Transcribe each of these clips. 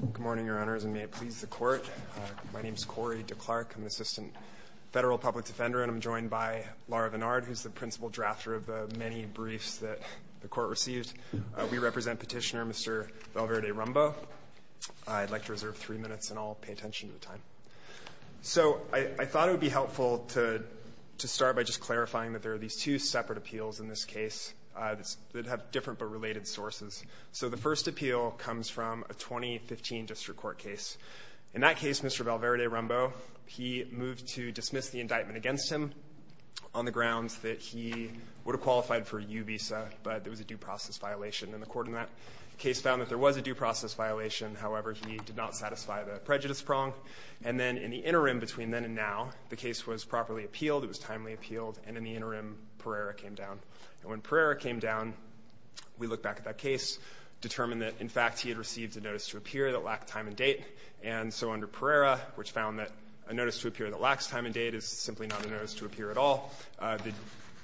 Good morning, Your Honors, and may it please the Court. My name is Corey DeClark. I'm Assistant Federal Public Defender, and I'm joined by Laura Vennard, who's the principal drafter of the many briefs that the Court received. We represent Petitioner Mr. Valverde-Rumbo. I'd like to reserve three minutes, and I'll pay attention to the time. So I thought it would be helpful to start by just clarifying that there are these two separate appeals in this case that have different but related sources. So the first appeal comes from a 2015 district court case. In that case, Mr. Valverde-Rumbo, he moved to dismiss the indictment against him on the grounds that he would have qualified for a U visa, but there was a due process violation, and the Court in that case found that there was a due process violation. However, he did not satisfy the prejudice prong, and then in the interim between then and now, the case was properly appealed, it was timely appealed, and in the interim, Pereira came down. And when Pereira came down, we looked back at that case, determined that, in fact, he had received a notice to appear that lacked time and date. And so under Pereira, which found that a notice to appear that lacks time and date is simply not a notice to appear at all, the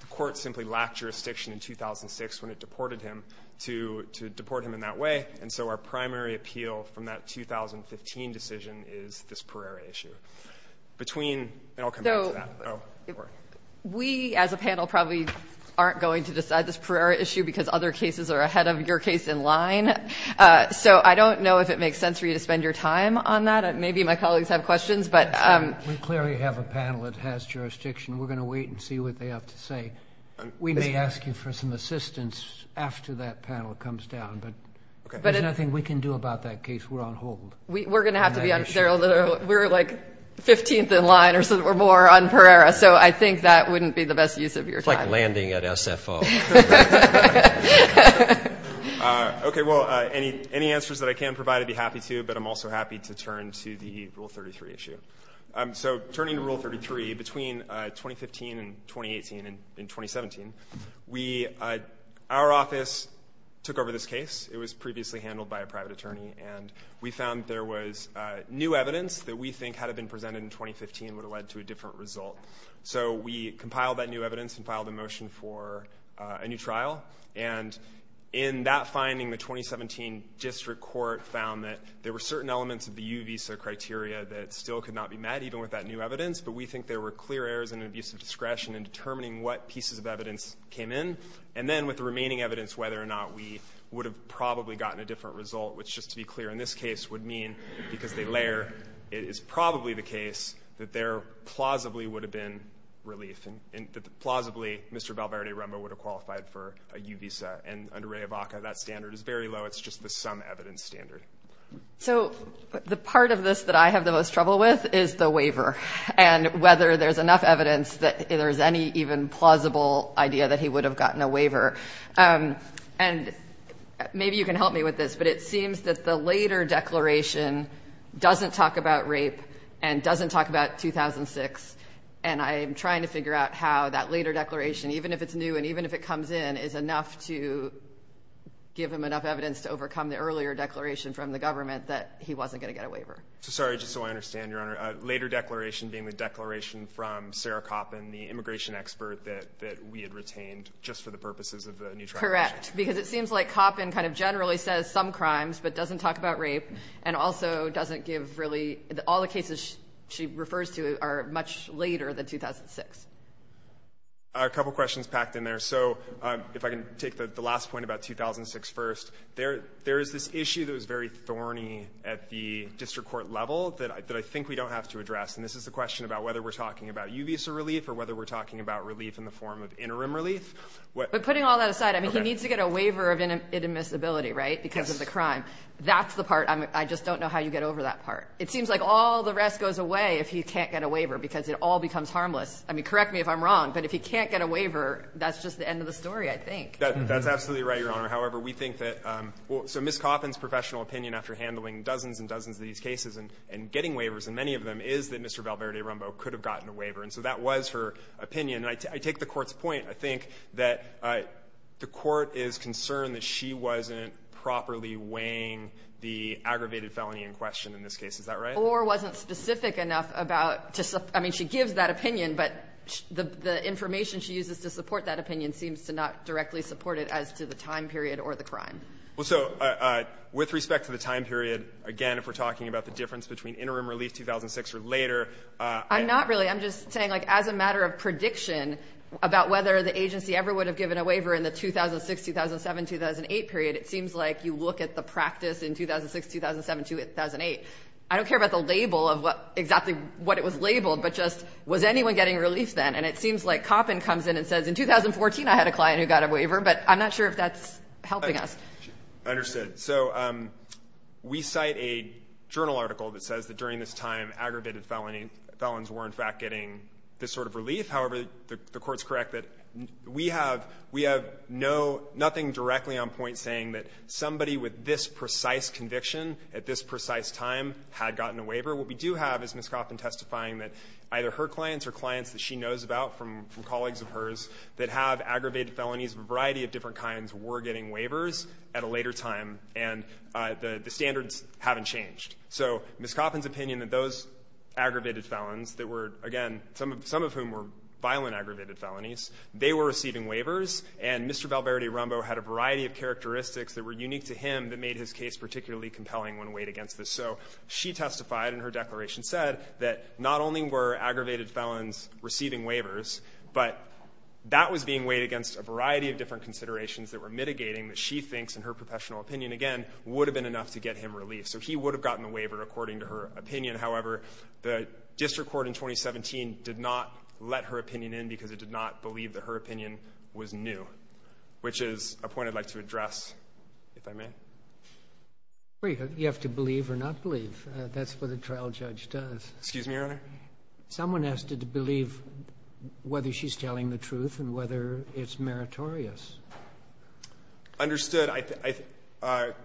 Court simply lacked jurisdiction in 2006 when it deported him to deport him in that way. And so our primary appeal from that 2015 decision is this Pereira issue. Between, and I'll come back to that. It worked. We, as a panel, probably aren't going to decide this Pereira issue because other cases are ahead of your case in line. So I don't know if it makes sense for you to spend your time on that. Maybe my colleagues have questions. We clearly have a panel that has jurisdiction. We're going to wait and see what they have to say. We may ask you for some assistance after that panel comes down, but there's nothing we can do about that case. We're on hold. We're going to have to be on, we're like 15th in line or more on Pereira, so I think that wouldn't be the best use of your time. It's like landing at SFO. Okay, well, any answers that I can provide, I'd be happy to, but I'm also happy to turn to the Rule 33 issue. So turning to Rule 33, between 2015 and 2018 and 2017, our office took over this case. It was previously handled by a private attorney, and we found there was new evidence that we think had been presented in 2015 would have led to a different result. So we compiled that new evidence and filed a motion for a new trial, and in that finding, the 2017 district court found that there were certain elements of the U visa criteria that still could not be met, even with that new evidence, but we think there were clear errors in abuse of discretion in determining what pieces of evidence came in, and then with the remaining evidence, whether or not we would have probably gotten a different result, which, just to be clear, in this case would mean, because they layer, it is probably the case that there plausibly would have been relief, and that plausibly Mr. Valverde-Rumba would have qualified for a U visa, and under REA-VACA, that standard is very low. It's just the sum evidence standard. So the part of this that I have the most trouble with is the waiver, and whether there's enough evidence that there's any even plausible idea that he would have gotten a waiver, and maybe you can help me with this, but it seems that the later declaration doesn't talk about rape and doesn't talk about 2006, and I'm trying to figure out how that later declaration, even if it's new and even if it comes in, is enough to give him enough evidence to overcome the earlier declaration from the government that he wasn't going to get a waiver. Sorry, just so I understand, Your Honor, a later declaration being the declaration from Sarah Koppen, the immigration expert that we had retained just for the purposes of the new tribulation. Correct. Because it seems like Koppen kind of generally says some crimes but doesn't talk about rape and also doesn't give really, all the cases she refers to are much later than 2006. A couple of questions packed in there. So if I can take the last point about 2006 first, there is this issue that was very thorny at the district court level that I think we don't have to address, and this is the question about whether we're talking about Uvisa relief or whether we're talking about relief in the form of interim relief. But putting all that aside, I mean, he needs to get a waiver of inadmissibility, right, because of the crime. That's the part. I just don't know how you get over that part. It seems like all the rest goes away if he can't get a waiver because it all becomes harmless. I mean, correct me if I'm wrong, but if he can't get a waiver, that's just the end of the story, I think. That's absolutely right, Your Honor. However, we think that so Ms. Coffin's professional opinion after handling dozens and dozens of these cases and getting waivers in many of them is that Mr. Valverde-Rumbo could have gotten a waiver. And so that was her opinion. And I take the Court's point. I think that the Court is concerned that she wasn't properly weighing the aggravated felony in question in this case. Is that right? Or wasn't specific enough about, I mean, she gives that opinion, but the information she uses to support that opinion seems to not directly support it as to the time period or the crime. Well, so with respect to the time period, again, if we're talking about the difference between interim relief 2006 or later. I'm not really. I'm just saying, like, as a matter of prediction about whether the agency ever would have given a waiver in the 2006, 2007, 2008 period, it seems like you look at the practice in 2006, 2007, 2008. I don't care about the label of what exactly what it was labeled, but just was anyone getting relief then? And it seems like Coffin comes in and says, in 2014, I had a client who got a waiver, but I'm not sure if that's helping us. I understand. So we cite a journal article that says that during this time, aggravated felonies were, in fact, getting this sort of relief. However, the Court's correct that we have nothing directly on point saying that somebody with this precise conviction at this precise time had gotten a waiver. What we do have is Ms. Coffin testifying that either her clients or clients that she knows about from colleagues of hers that have aggravated felonies of a variety of different kinds were getting waivers at a later time, and the standards haven't changed. So Ms. Coffin's opinion that those aggravated felons that were, again, some of whom were violent aggravated felonies, they were receiving waivers, and Mr. Valverde-Rumbo had a variety of characteristics that were unique to him that made his case particularly compelling when weighed against this. So she testified in her declaration said that not only were aggravated felons receiving waivers, but that was being weighed against a variety of different considerations that were mitigating that she thinks, in her professional opinion, again, would have been enough to get him relief. So he would have gotten a waiver according to her opinion. However, the district court in 2017 did not let her opinion in because it did not believe that her opinion was new, which is a point I'd like to address, if I may. Well, you have to believe or not believe. That's what a trial judge does. Excuse me, Your Honor? Someone asked her to believe whether she's telling the truth and whether it's meritorious. Understood. I think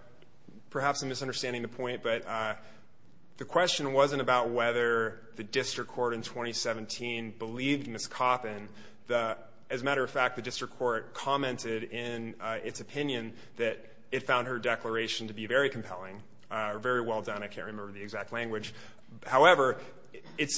perhaps I'm misunderstanding the point, but the question wasn't about whether the district court in 2017 believed Ms. Coffin. As a matter of fact, the district court commented in its opinion that it found her declaration to be very compelling, very well done. I can't remember the exact language. However, it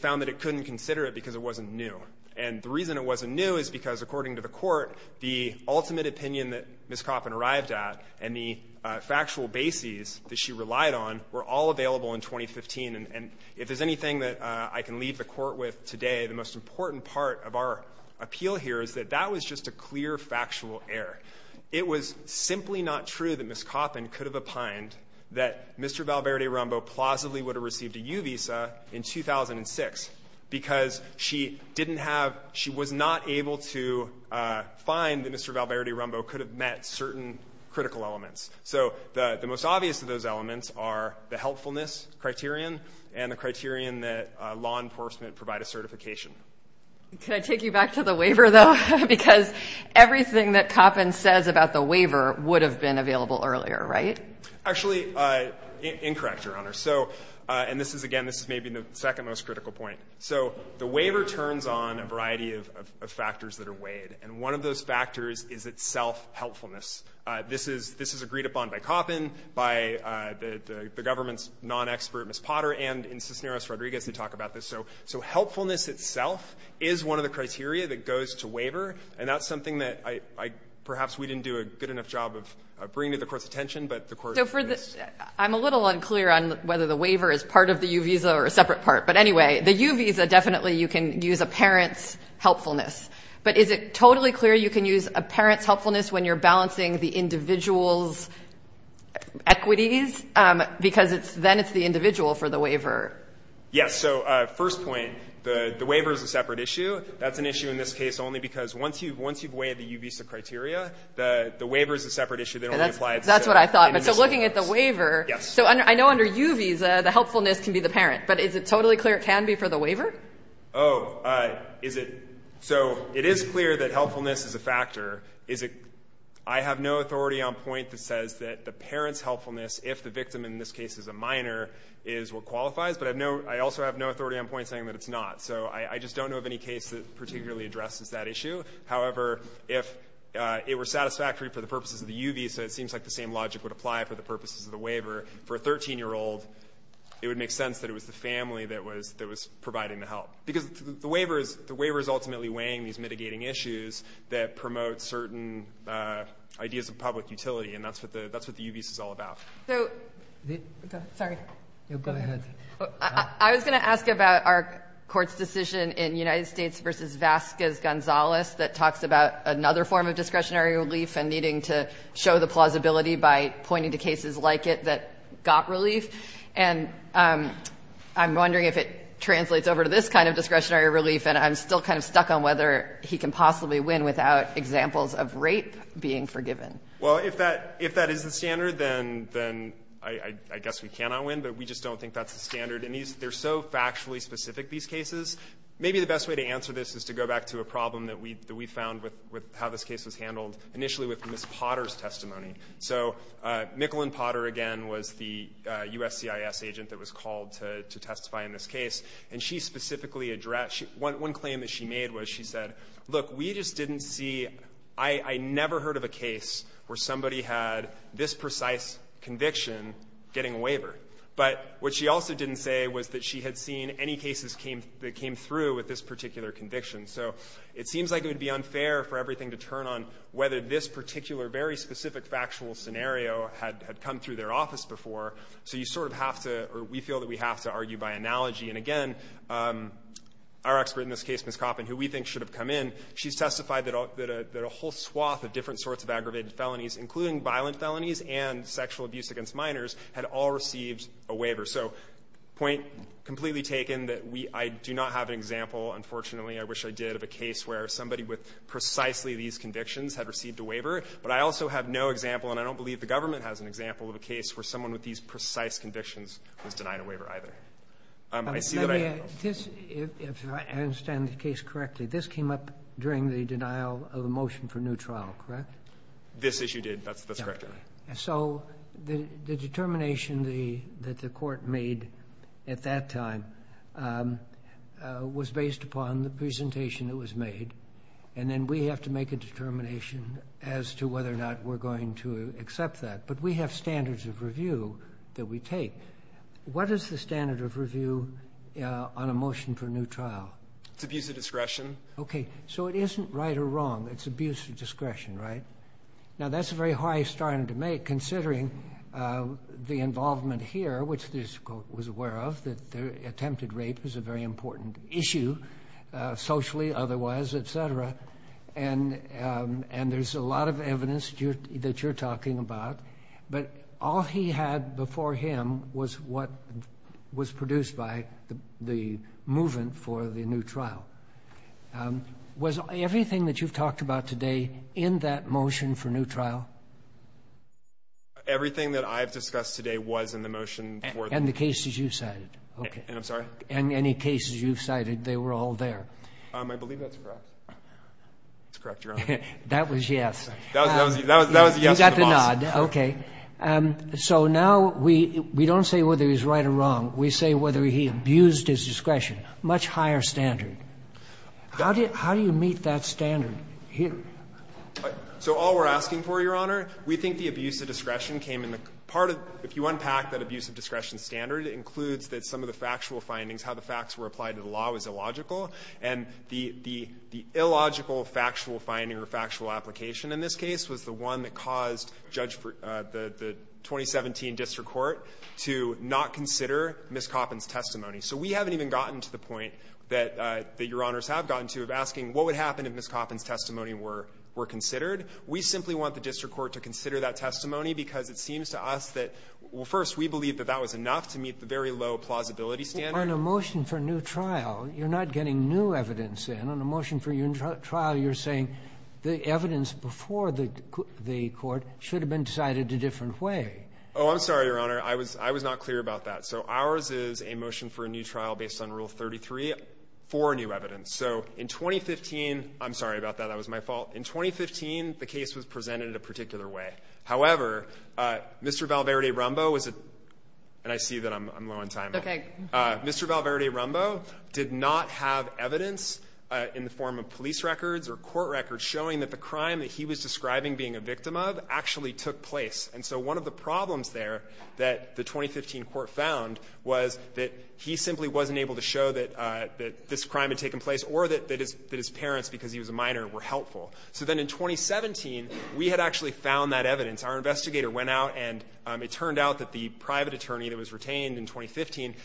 found that it couldn't consider it because it wasn't new. And the reason it wasn't new is because, according to the court, the ultimate opinion that Ms. Coffin arrived at and the factual bases that she relied on were all available in 2015. And if there's anything that I can leave the court with today, the most important part of our appeal here is that that was just a clear factual error. It was simply not true that Ms. Coffin could have opined that Mr. Valverde-Rumbo plausibly would have received a U visa in 2006 because she didn't have — she was not able to find that Mr. Valverde-Rumbo could have met certain critical elements. So the most obvious of those elements are the helpfulness criterion and the criterion that law enforcement provide a certification. Can I take you back to the waiver, though? Because everything that Coffin says about the waiver would have been available earlier, right? Actually, incorrect, Your Honor. So — and this is, again, this is maybe the second most critical point. So the waiver turns on a variety of factors that are weighed, and one of those factors is itself helpfulness. This is — this is agreed upon by Coffin, by the government's non-expert, Ms. Potter, and in Cisneros-Rodriguez, they talk about this. So helpfulness itself is one of the criteria that goes to waiver, and that's something that I — perhaps we didn't do a good enough job of bringing to the Court's attention, but the Court — So for the — I'm a little unclear on whether the waiver is part of the U visa or a separate part, but anyway, the U visa, definitely you can use a parent's helpfulness. But is it totally clear you can use a parent's helpfulness when you're balancing the individual's equities? Because it's — then it's the individual for the waiver. Yes. So first point, the waiver is a separate issue. That's an issue in this case only because once you've weighed the U visa criteria, the waiver is a separate issue. They don't really apply — That's what I thought. But so looking at the waiver — Yes. So I know under U visa, the helpfulness can be the parent, but is it totally clear it can be for the waiver? Oh, is it — so it is clear that helpfulness is a factor. Is it — I have no authority on point that says that the parent's helpfulness, if the victim in this case is a minor, is what qualifies, but I have no — I also have no authority on point saying that it's not. So I just don't know of any case that particularly addresses that issue. However, if it were satisfactory for the purposes of the U visa, it seems like the same logic would apply for the purposes of the waiver. For a 13-year-old, it would make sense that it was the family that was — that was providing the help, because the waiver is — the waiver is ultimately weighing these mitigating issues that promote certain ideas of public utility, and that's what the — that's what the U visa is all about. So — Sorry. Go ahead. I was going to ask about our court's decision in United States v. Vasquez-Gonzalez that talks about another form of discretionary relief and needing to show the plausibility by pointing to cases like it that got relief. And I'm wondering if it translates over to this kind of discretionary relief, and I'm still kind of stuck on whether he can possibly win without examples of rape being forgiven. Well, if that — if that is the standard, then — then I — I guess we cannot win, but we just don't think that's the standard. And these — they're so factually specific, these cases, maybe the best way to answer this is to go back to a problem that we — that we found with — with how this case was handled initially with Ms. Potter's testimony. So Mickalyn Potter, again, was the USCIS agent that was called to testify in this case, and she specifically addressed — one claim that she made was she said, look, we just didn't see — I never heard of a case where somebody had this precise conviction getting a waiver. But what she also didn't say was that she had seen any cases came — that came through with this particular conviction. So it seems like it would be unfair for everything to turn on whether this particular, very specific factual scenario had — had come through their office before. So you sort of have to — or we feel that we have to argue by analogy. And again, our expert in this case, Ms. Coffin, who we think should have come in, she's testified that a whole swath of different sorts of aggravated felonies, including violent felonies and sexual abuse against minors, had all received a waiver. So point completely taken that we — I do not have an example, unfortunately, I wish I did, of a case where somebody with precisely these convictions had received a waiver. But I also have no example, and I don't believe the government has an example of a case where someone with these precise convictions was denied a waiver, either. I see that I have no — This — if I understand the case correctly, this came up during the denial of a motion for new trial, correct? This issue did. That's correct, Your Honor. So the determination the — that the Court made at that time was based upon the presentation that was made. And then we have to make a determination as to whether or not we're going to accept that. But we have standards of review that we take. What is the standard of review on a motion for new trial? It's abuse of discretion. Okay. So it isn't right or wrong. It's abuse of discretion, right? Now, that's a very high standard to make, considering the involvement here, which this Court was aware of, that attempted rape is a very important issue, socially. Otherwise, et cetera. And there's a lot of evidence that you're talking about. But all he had before him was what was produced by the movement for the new trial. Was everything that you've talked about today in that motion for new trial? Everything that I've discussed today was in the motion for — And the cases you cited. Okay. And I'm sorry? And any cases you've cited, they were all there. I believe that's correct. That's correct, Your Honor. That was yes. That was yes to the boss. You got the nod. Okay. So now we don't say whether he's right or wrong. We say whether he abused his discretion. Much higher standard. How do you meet that standard here? So all we're asking for, Your Honor, we think the abuse of discretion came in the part of — if you unpack that abuse of discretion standard, it includes that some of the factual findings, how the facts were applied to the law, was illogical. And the illogical factual finding or factual application in this case was the one that caused the 2017 district court to not consider Ms. Coffin's testimony. So we haven't even gotten to the point that Your Honors have gotten to of asking what would happen if Ms. Coffin's testimony were considered. We simply want the district court to consider that testimony because it seems to us that — well, first, we believe that that was enough to meet the very low plausibility standard. On a motion for a new trial, you're not getting new evidence in. On a motion for a new trial, you're saying the evidence before the court should have been decided a different way. Oh, I'm sorry, Your Honor. I was not clear about that. So ours is a motion for a new trial based on Rule 33 for new evidence. So in 2015 — I'm sorry about that. That was my fault. In 2015, the case was presented a particular way. However, Mr. Valverde-Rumbo was — and I see that I'm low on time. Okay. Mr. Valverde-Rumbo did not have evidence in the form of police records or court records showing that the crime that he was describing being a victim of actually took place. And so one of the problems there that the 2015 court found was that he simply wasn't able to show that this crime had taken place or that his parents, because he was a minor, were helpful. So then in 2017, we had actually found that evidence. Our investigator went out, and it turned out that the private attorney that was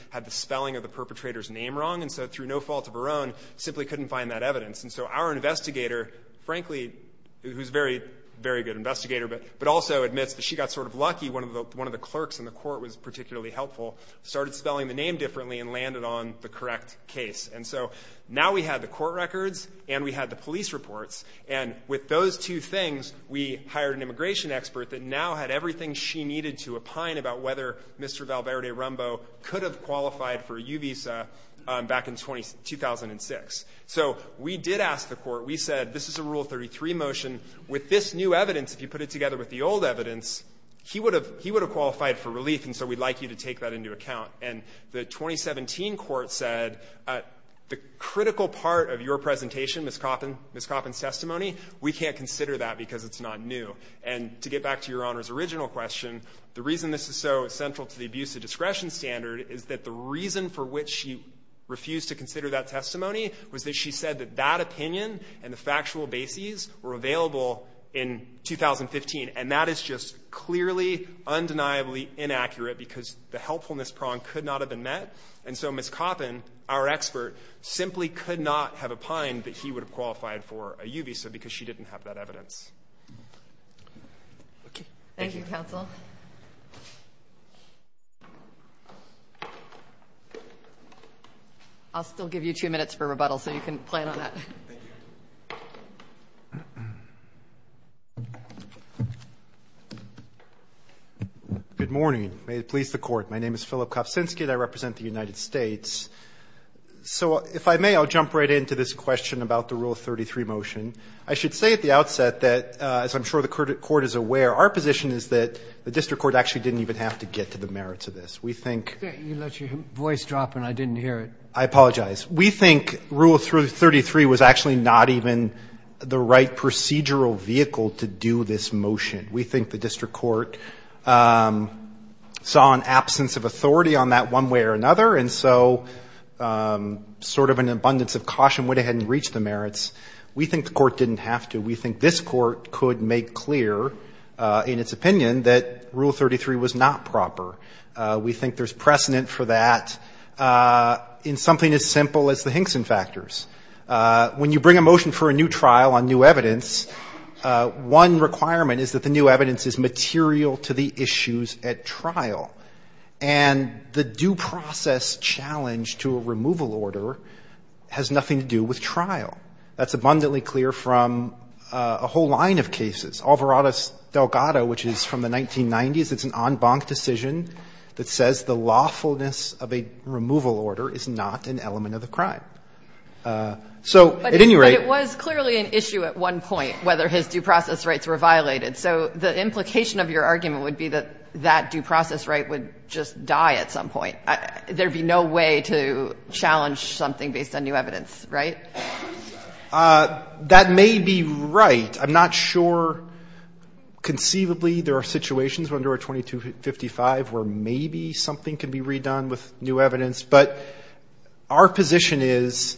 had the spelling of the perpetrator's name wrong. And so through no fault of her own, simply couldn't find that evidence. And so our investigator, frankly — who's a very, very good investigator, but also admits that she got sort of lucky. One of the clerks in the court was particularly helpful, started spelling the name differently, and landed on the correct case. And so now we had the court records, and we had the police reports. And with those two things, we hired an immigration expert that now had everything she needed to opine about whether Mr. Valverde-Rumbo could have qualified for a U-visa back in 2006. So we did ask the court. We said, this is a Rule 33 motion. With this new evidence, if you put it together with the old evidence, he would have qualified for relief, and so we'd like you to take that into account. And the 2017 court said, the critical part of your presentation, Ms. Coffin's testimony, we can't consider that because it's not new. And to get back to Your Honor's original question, the reason this is so central to the abuse of discretion standard is that the reason for which she refused to consider that testimony was that she said that that opinion and the factual bases were available in 2015. And that is just clearly, undeniably inaccurate, because the helpfulness prong could not have been met. And so Ms. Coffin, our expert, simply could not have opined that he would have qualified for a U-visa because she didn't have that evidence. Okay. Thank you, counsel. I'll still give you two minutes for rebuttal, so you can plan on that. Thank you. Good morning. May it please the court. My name is Philip Kofcinski, and I represent the United States. So if I may, I'll jump right into this question about the Rule 33 motion. I should say at the outset that, as I'm sure the court is aware, our position is that the district court actually didn't even have to get to the merits of this. We think... You let your voice drop, and I didn't hear it. I apologize. We think Rule 33 was actually not even the right procedural vehicle to do this motion. We think the district court saw an absence of authority on that one way or another, and so sort of an abundance of caution went ahead and reached the merits. We think the court didn't have to. We think this court could make clear in its opinion that Rule 33 was not proper. We think there's precedent for that in something as simple as the Hinkson factors. When you bring a motion for a new trial on new evidence, one requirement is that the new evidence is material to the issues at trial, and the due process challenge to a removal order has nothing to do with trial. That's abundantly clear from a whole line of cases. Alvarado's Delgado, which is from the 1990s, it's an en banc decision that says the lawfulness of a removal order is not an element of the crime. So at any rate... But it was clearly an issue at one point, whether his due process rights were violated. So the implication of your argument would be that that due process right would just die at some point. There'd be no way to challenge something based on new evidence, right? That may be right. I'm not sure. Conceivably, there are situations under our 2255 where maybe something can be redone with new evidence, but our position is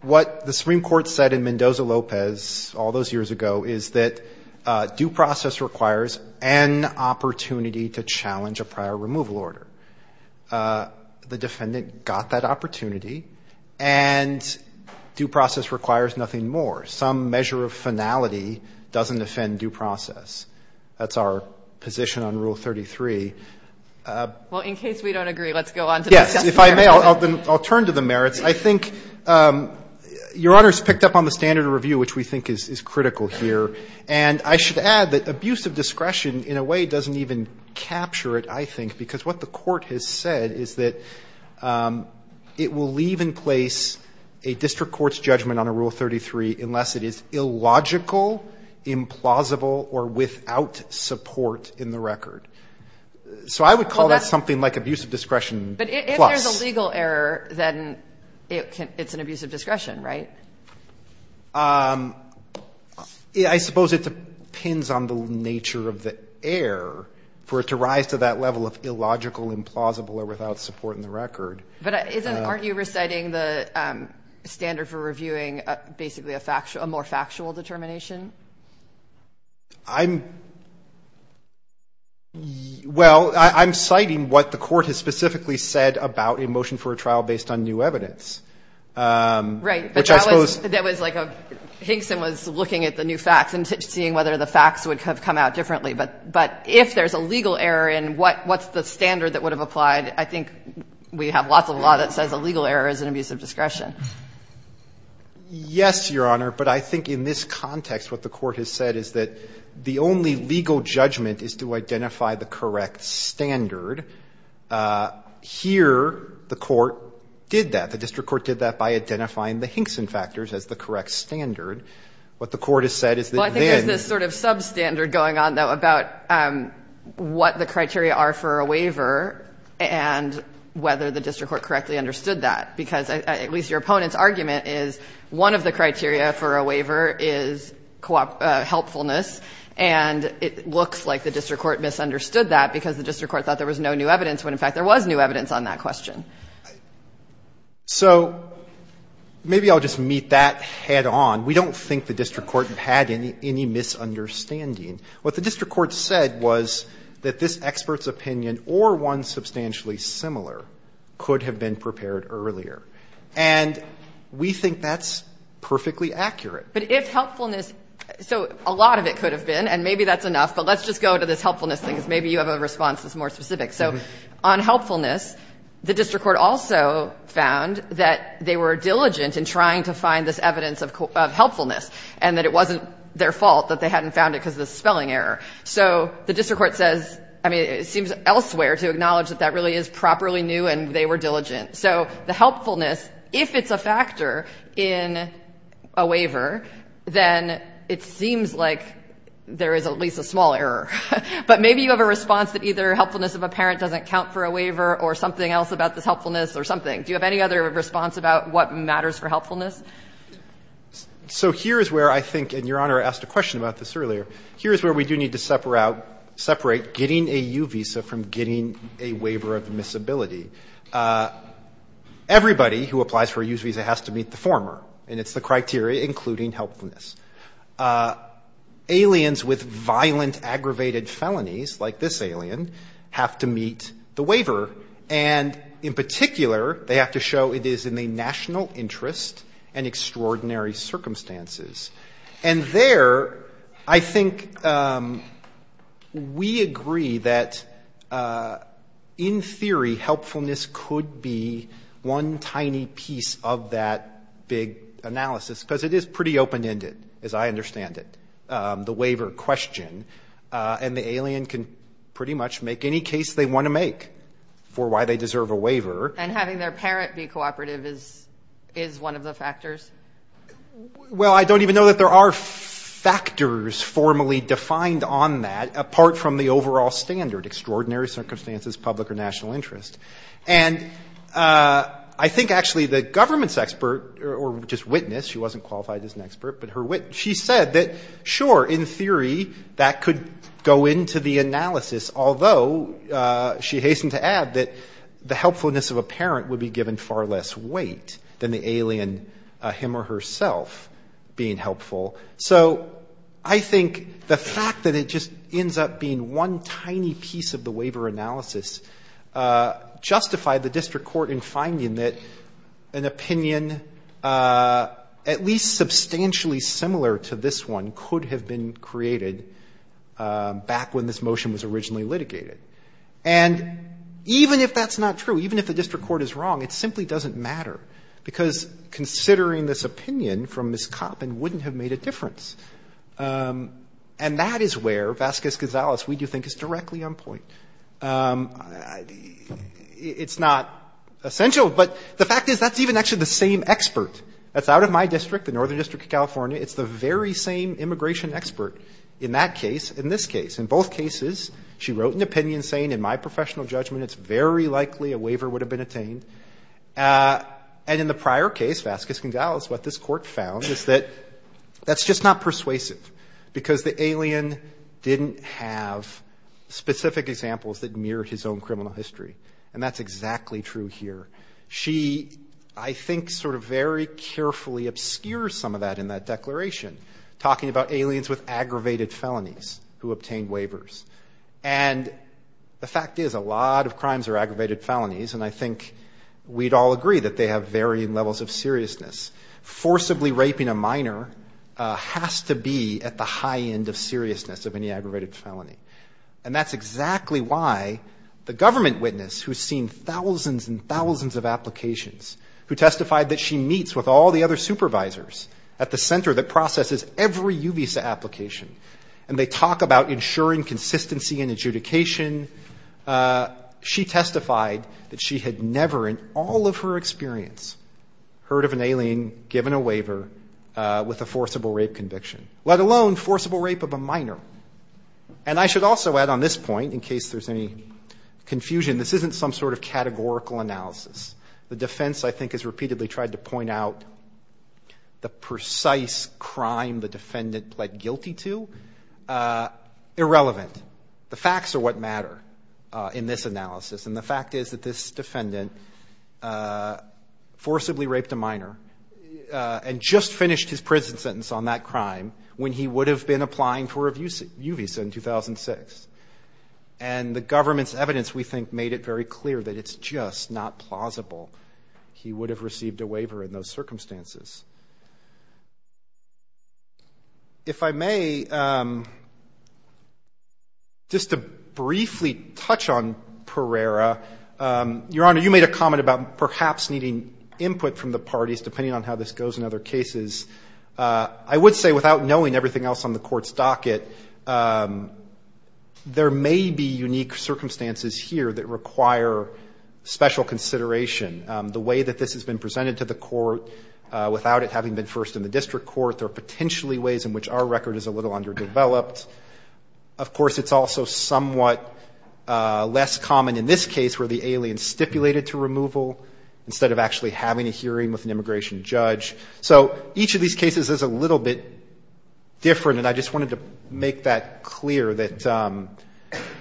what the Supreme Court said in Mendoza-Lopez all those years ago is that due process requires an opportunity to challenge a prior removal order. The defendant got that opportunity, and due process requires nothing more. Some measure of finality doesn't offend due process. That's our position on Rule 33. Well, in case we don't agree, let's go on to the merits. Yes, if I may, I'll turn to the merits. I think Your Honor's picked up on the standard of review, which we think is critical here, and I should add that abuse of discretion in a way doesn't even capture it, I think, because what the court has said is that it will leave in place a district court's judgment on a Rule 33 unless it is illogical, implausible, or without support in the record. So I would call that something like abuse of discretion plus. But if there's a legal error, then it's an abuse of discretion, right? I suppose it depends on the nature of the error for it to rise to that level of illogical, implausible, or without support in the record. But aren't you reciting the standard for reviewing basically a more factual determination? I'm, well, I'm citing what the court has specifically said about a motion for a trial based on new evidence. Right. Which I suppose. That was like a, Hinkson was looking at the new facts and seeing whether the facts would have come out differently. But if there's a legal error in what's the standard that would have applied, I think we have lots of law that says a legal error is an abuse of discretion. Yes, Your Honor, but I think in this context what the court has said is that the only legal judgment is to identify the correct standard. Here, the court did that. The district court did that by identifying the Hinkson factors as the correct standard. What the court has said is that then. Well, I think there's this sort of substandard going on, though, about what the criteria are for a waiver and whether the district court correctly understood that, because at least your opponent's argument is one of the criteria for a waiver is helpfulness, and it looks like the district court misunderstood that because the district court thought there was no new evidence when, in fact, there was new evidence on that question. So maybe I'll just meet that head-on. We don't think the district court had any misunderstanding. What the district court said was that this expert's opinion or one substantially similar could have been prepared earlier, and we think that's perfectly accurate. But if helpfulness, so a lot of it could have been, and maybe that's enough, but let's just go to this helpfulness thing, because maybe you have a response that's more specific. So on helpfulness, the district court also found that they were diligent in trying to find this evidence of helpfulness and that it wasn't their fault that they hadn't found it because of the spelling error. So the district court says, I mean, it seems elsewhere to acknowledge that that really is properly new and they were diligent. So the helpfulness, if it's a factor in a waiver, then it seems like there is at least a small error. But maybe you have a response that either helpfulness of a parent doesn't count for a waiver or something else about this helpfulness or something. Do you have any other response about what matters for helpfulness? So here is where I think, and Your Honor asked a question about this earlier, here is where we do need to separate getting a U visa from getting a waiver of admissibility. Everybody who applies for a U visa has to meet the former, and it's the criteria, including helpfulness. Aliens with violent, aggravated felonies, like this alien, have to meet the waiver. And in particular, they have to show it is in the national interest and extraordinary circumstances. And there, I think we agree that in theory, helpfulness could be one tiny piece of that big analysis, because it is pretty open-ended, as I understand it, the waiver question. And the alien can pretty much make any case they want to make for why they deserve a waiver. And having their parent be cooperative is one of the factors? Well, I don't even know that there are factors formally defined on that, apart from the overall standard, extraordinary circumstances, public or national interest. And I think, actually, the government's expert, or just witness, she wasn't qualified as an expert, but her witness, she said that, sure, in theory, that could go into the analysis, although she hastened to add that the helpfulness of a parent would be given far less weight than the alien, him or herself, being helpful. So I think the fact that it just ends up being one tiny piece of the waiver analysis justified the district court in finding that an opinion, at least substantially similar to this one, could have been created back when this motion was originally litigated. And even if that's not true, even if the district court is wrong, it simply doesn't matter, because considering this opinion from Ms. Coppin wouldn't have made a difference. And that is where Vasquez-Gonzalez, we do think, is directly on point. It's not essential, but the fact is, that's even actually the same expert. That's out of my district, the Northern District of California. It's the very same immigration expert in that case, in this case. In both cases, she wrote an opinion saying, in my professional judgment, it's very likely a waiver would have been attained. And in the prior case, Vasquez-Gonzalez, what this court found is that that's just not persuasive. Because the alien didn't have specific examples that mirrored his own criminal history. And that's exactly true here. She, I think, sort of very carefully obscures some of that in that declaration, talking about aliens with aggravated felonies who obtained waivers. And the fact is, a lot of crimes are aggravated felonies. And I think we'd all agree that they have varying levels of seriousness. Forcibly raping a minor has to be at the high end of seriousness of any aggravated felony. And that's exactly why the government witness, who's seen thousands and thousands of applications, who testified that she meets with all the other supervisors at the center that processes every UVISA application, and they talk about ensuring consistency in adjudication. She testified that she had never in all of her experience heard of an alien given a waiver with a forcible rape conviction, let alone forcible rape of a minor. And I should also add on this point, in case there's any confusion, this isn't some sort of categorical analysis. The defense, I think, has repeatedly tried to point out the precise crime the defendant pled guilty to, irrelevant. The facts are what matter in this analysis. And the fact is that this defendant forcibly raped a minor and just finished his prison sentence on that crime when he would have been applying for a UVISA in 2006. And the government's evidence, we think, made it very clear that it's just not plausible. He would have received a waiver in those circumstances. If I may, just to briefly touch on Pereira, Your Honor, you made a comment about perhaps needing input from the parties, depending on how this goes in other cases. I would say, without knowing everything else on the Court's docket, there may be unique circumstances here that require special consideration. The way that this has been presented to the Court, whether it's in the Supreme Court without it having been first in the district court, there are potentially ways in which our record is a little underdeveloped. Of course, it's also somewhat less common in this case where the alien stipulated to removal instead of actually having a hearing with an immigration judge. So each of these cases is a little bit different, and I just wanted to make that clear, that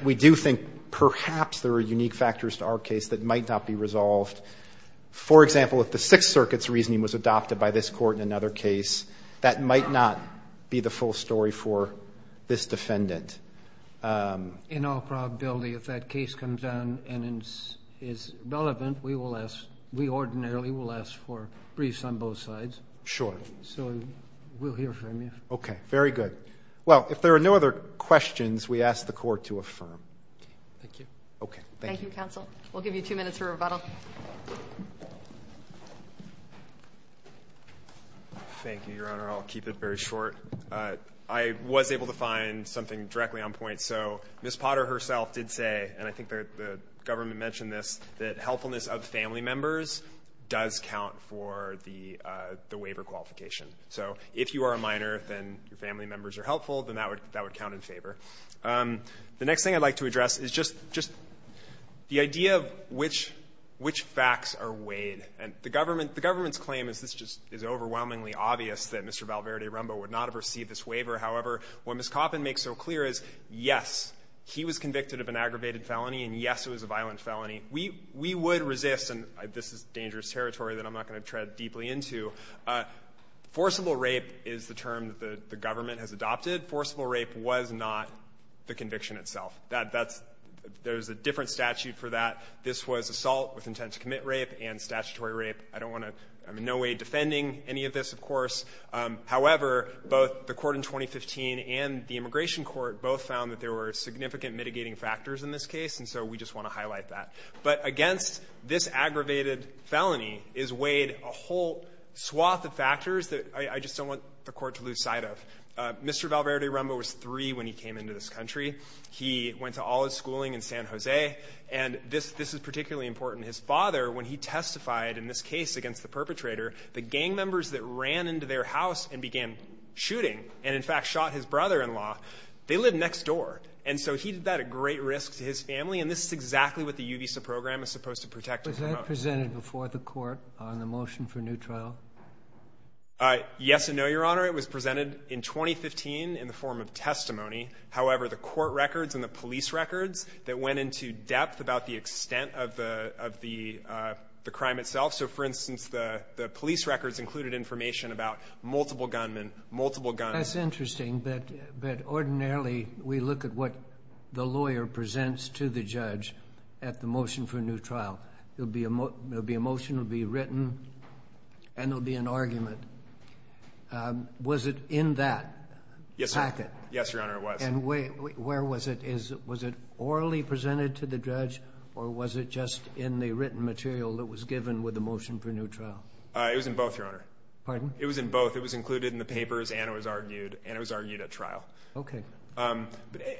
we do think perhaps there are unique factors to our case that might not be resolved. For example, if the Sixth Circuit's reasoning was adopted by this Court in another case, that might not be the full story for this defendant. Roberts. In all probability, if that case comes down and is relevant, we will ask, we ordinarily will ask for briefs on both sides. Sure. So we'll hear from you. Okay. Very good. Well, if there are no other questions, we ask the Court to affirm. Thank you. Okay. Thank you, counsel. We'll give you two minutes for rebuttal. Thank you, Your Honor. I'll keep it very short. I was able to find something directly on point. So Ms. Potter herself did say, and I think the government mentioned this, that helpfulness of family members does count for the waiver qualification. So if you are a minor, then your family members are helpful, then that would count in favor. The next thing I'd like to address is just the idea of which facts are weighed. And the government's claim is this just is overwhelmingly obvious, that Mr. Valverde Rumbaugh would not have received this waiver. However, what Ms. Coppin makes so clear is, yes, he was convicted of an aggravated felony, and, yes, it was a violent felony. We would resist, and this is dangerous territory that I'm not going to tread deeply into, forcible rape is the term that the government has adopted. Forcible rape was not the conviction itself. There's a different statute for that. This was assault with intent to commit rape and statutory rape. I'm in no way defending any of this, of course. However, both the court in 2015 and the immigration court both found that there were significant mitigating factors in this case, and so we just want to highlight that. But against this aggravated felony is weighed a whole swath of factors that I just don't want the court to lose sight of. Mr. Valverde Rumbaugh was three when he came into this country. He went to all his schooling in San Jose, and this is particularly important. His father, when he testified in this case against the perpetrator, the gang members that ran into their house and began shooting and, in fact, shot his brother-in-law, they lived next door. And so he did that at great risk to his family, and this is exactly what the UVISA program is supposed to protect. Was that presented before the court on the motion for new trial? Yes and no, Your Honor. It was presented in 2015 in the form of testimony. However, the court records and the police records that went into depth about the extent of the crime itself, so for instance, the police records included information about multiple gunmen, multiple guns. That's interesting, but ordinarily we look at what the lawyer presents to the judge at the motion for new trial. There'll be a motion, it'll be written, and there'll be an argument. Was it in that packet? Yes, Your Honor, it was. And where was it? Was it orally presented to the judge, or was it just in the written material that was given with the motion for new trial? It was in both, Your Honor. Pardon? It was in both. It was included in the papers, and it was argued at trial. Okay.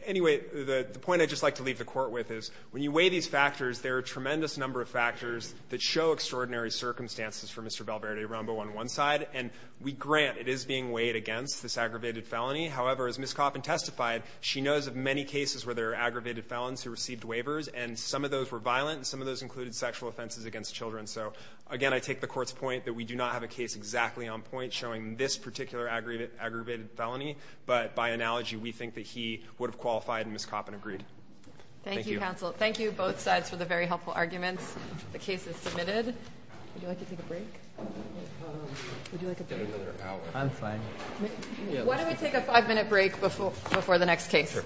Anyway, the point I'd just like to leave the court with is when you weigh these factors, there are a tremendous number of factors that show extraordinary circumstances for Mr. Valverde-Rambo on one side, and we grant it is being weighed against this aggravated felony. However, as Ms. Coppin testified, she knows of many cases where there are aggravated felons who received waivers, and some of those were violent, and some of those included sexual offenses against children. So again, I take the court's point that we do not have a case exactly on point showing this particular aggravated felony, but by analogy, we think that he would have qualified, and Ms. Coppin agreed. Thank you. Thank you, counsel. Thank you, both sides, for the very helpful arguments. The case is submitted. Would you like to take a break? Would you like to take a break? Let's get another hour. I'm fine. Why don't we take a five-minute break before the next case? Sure.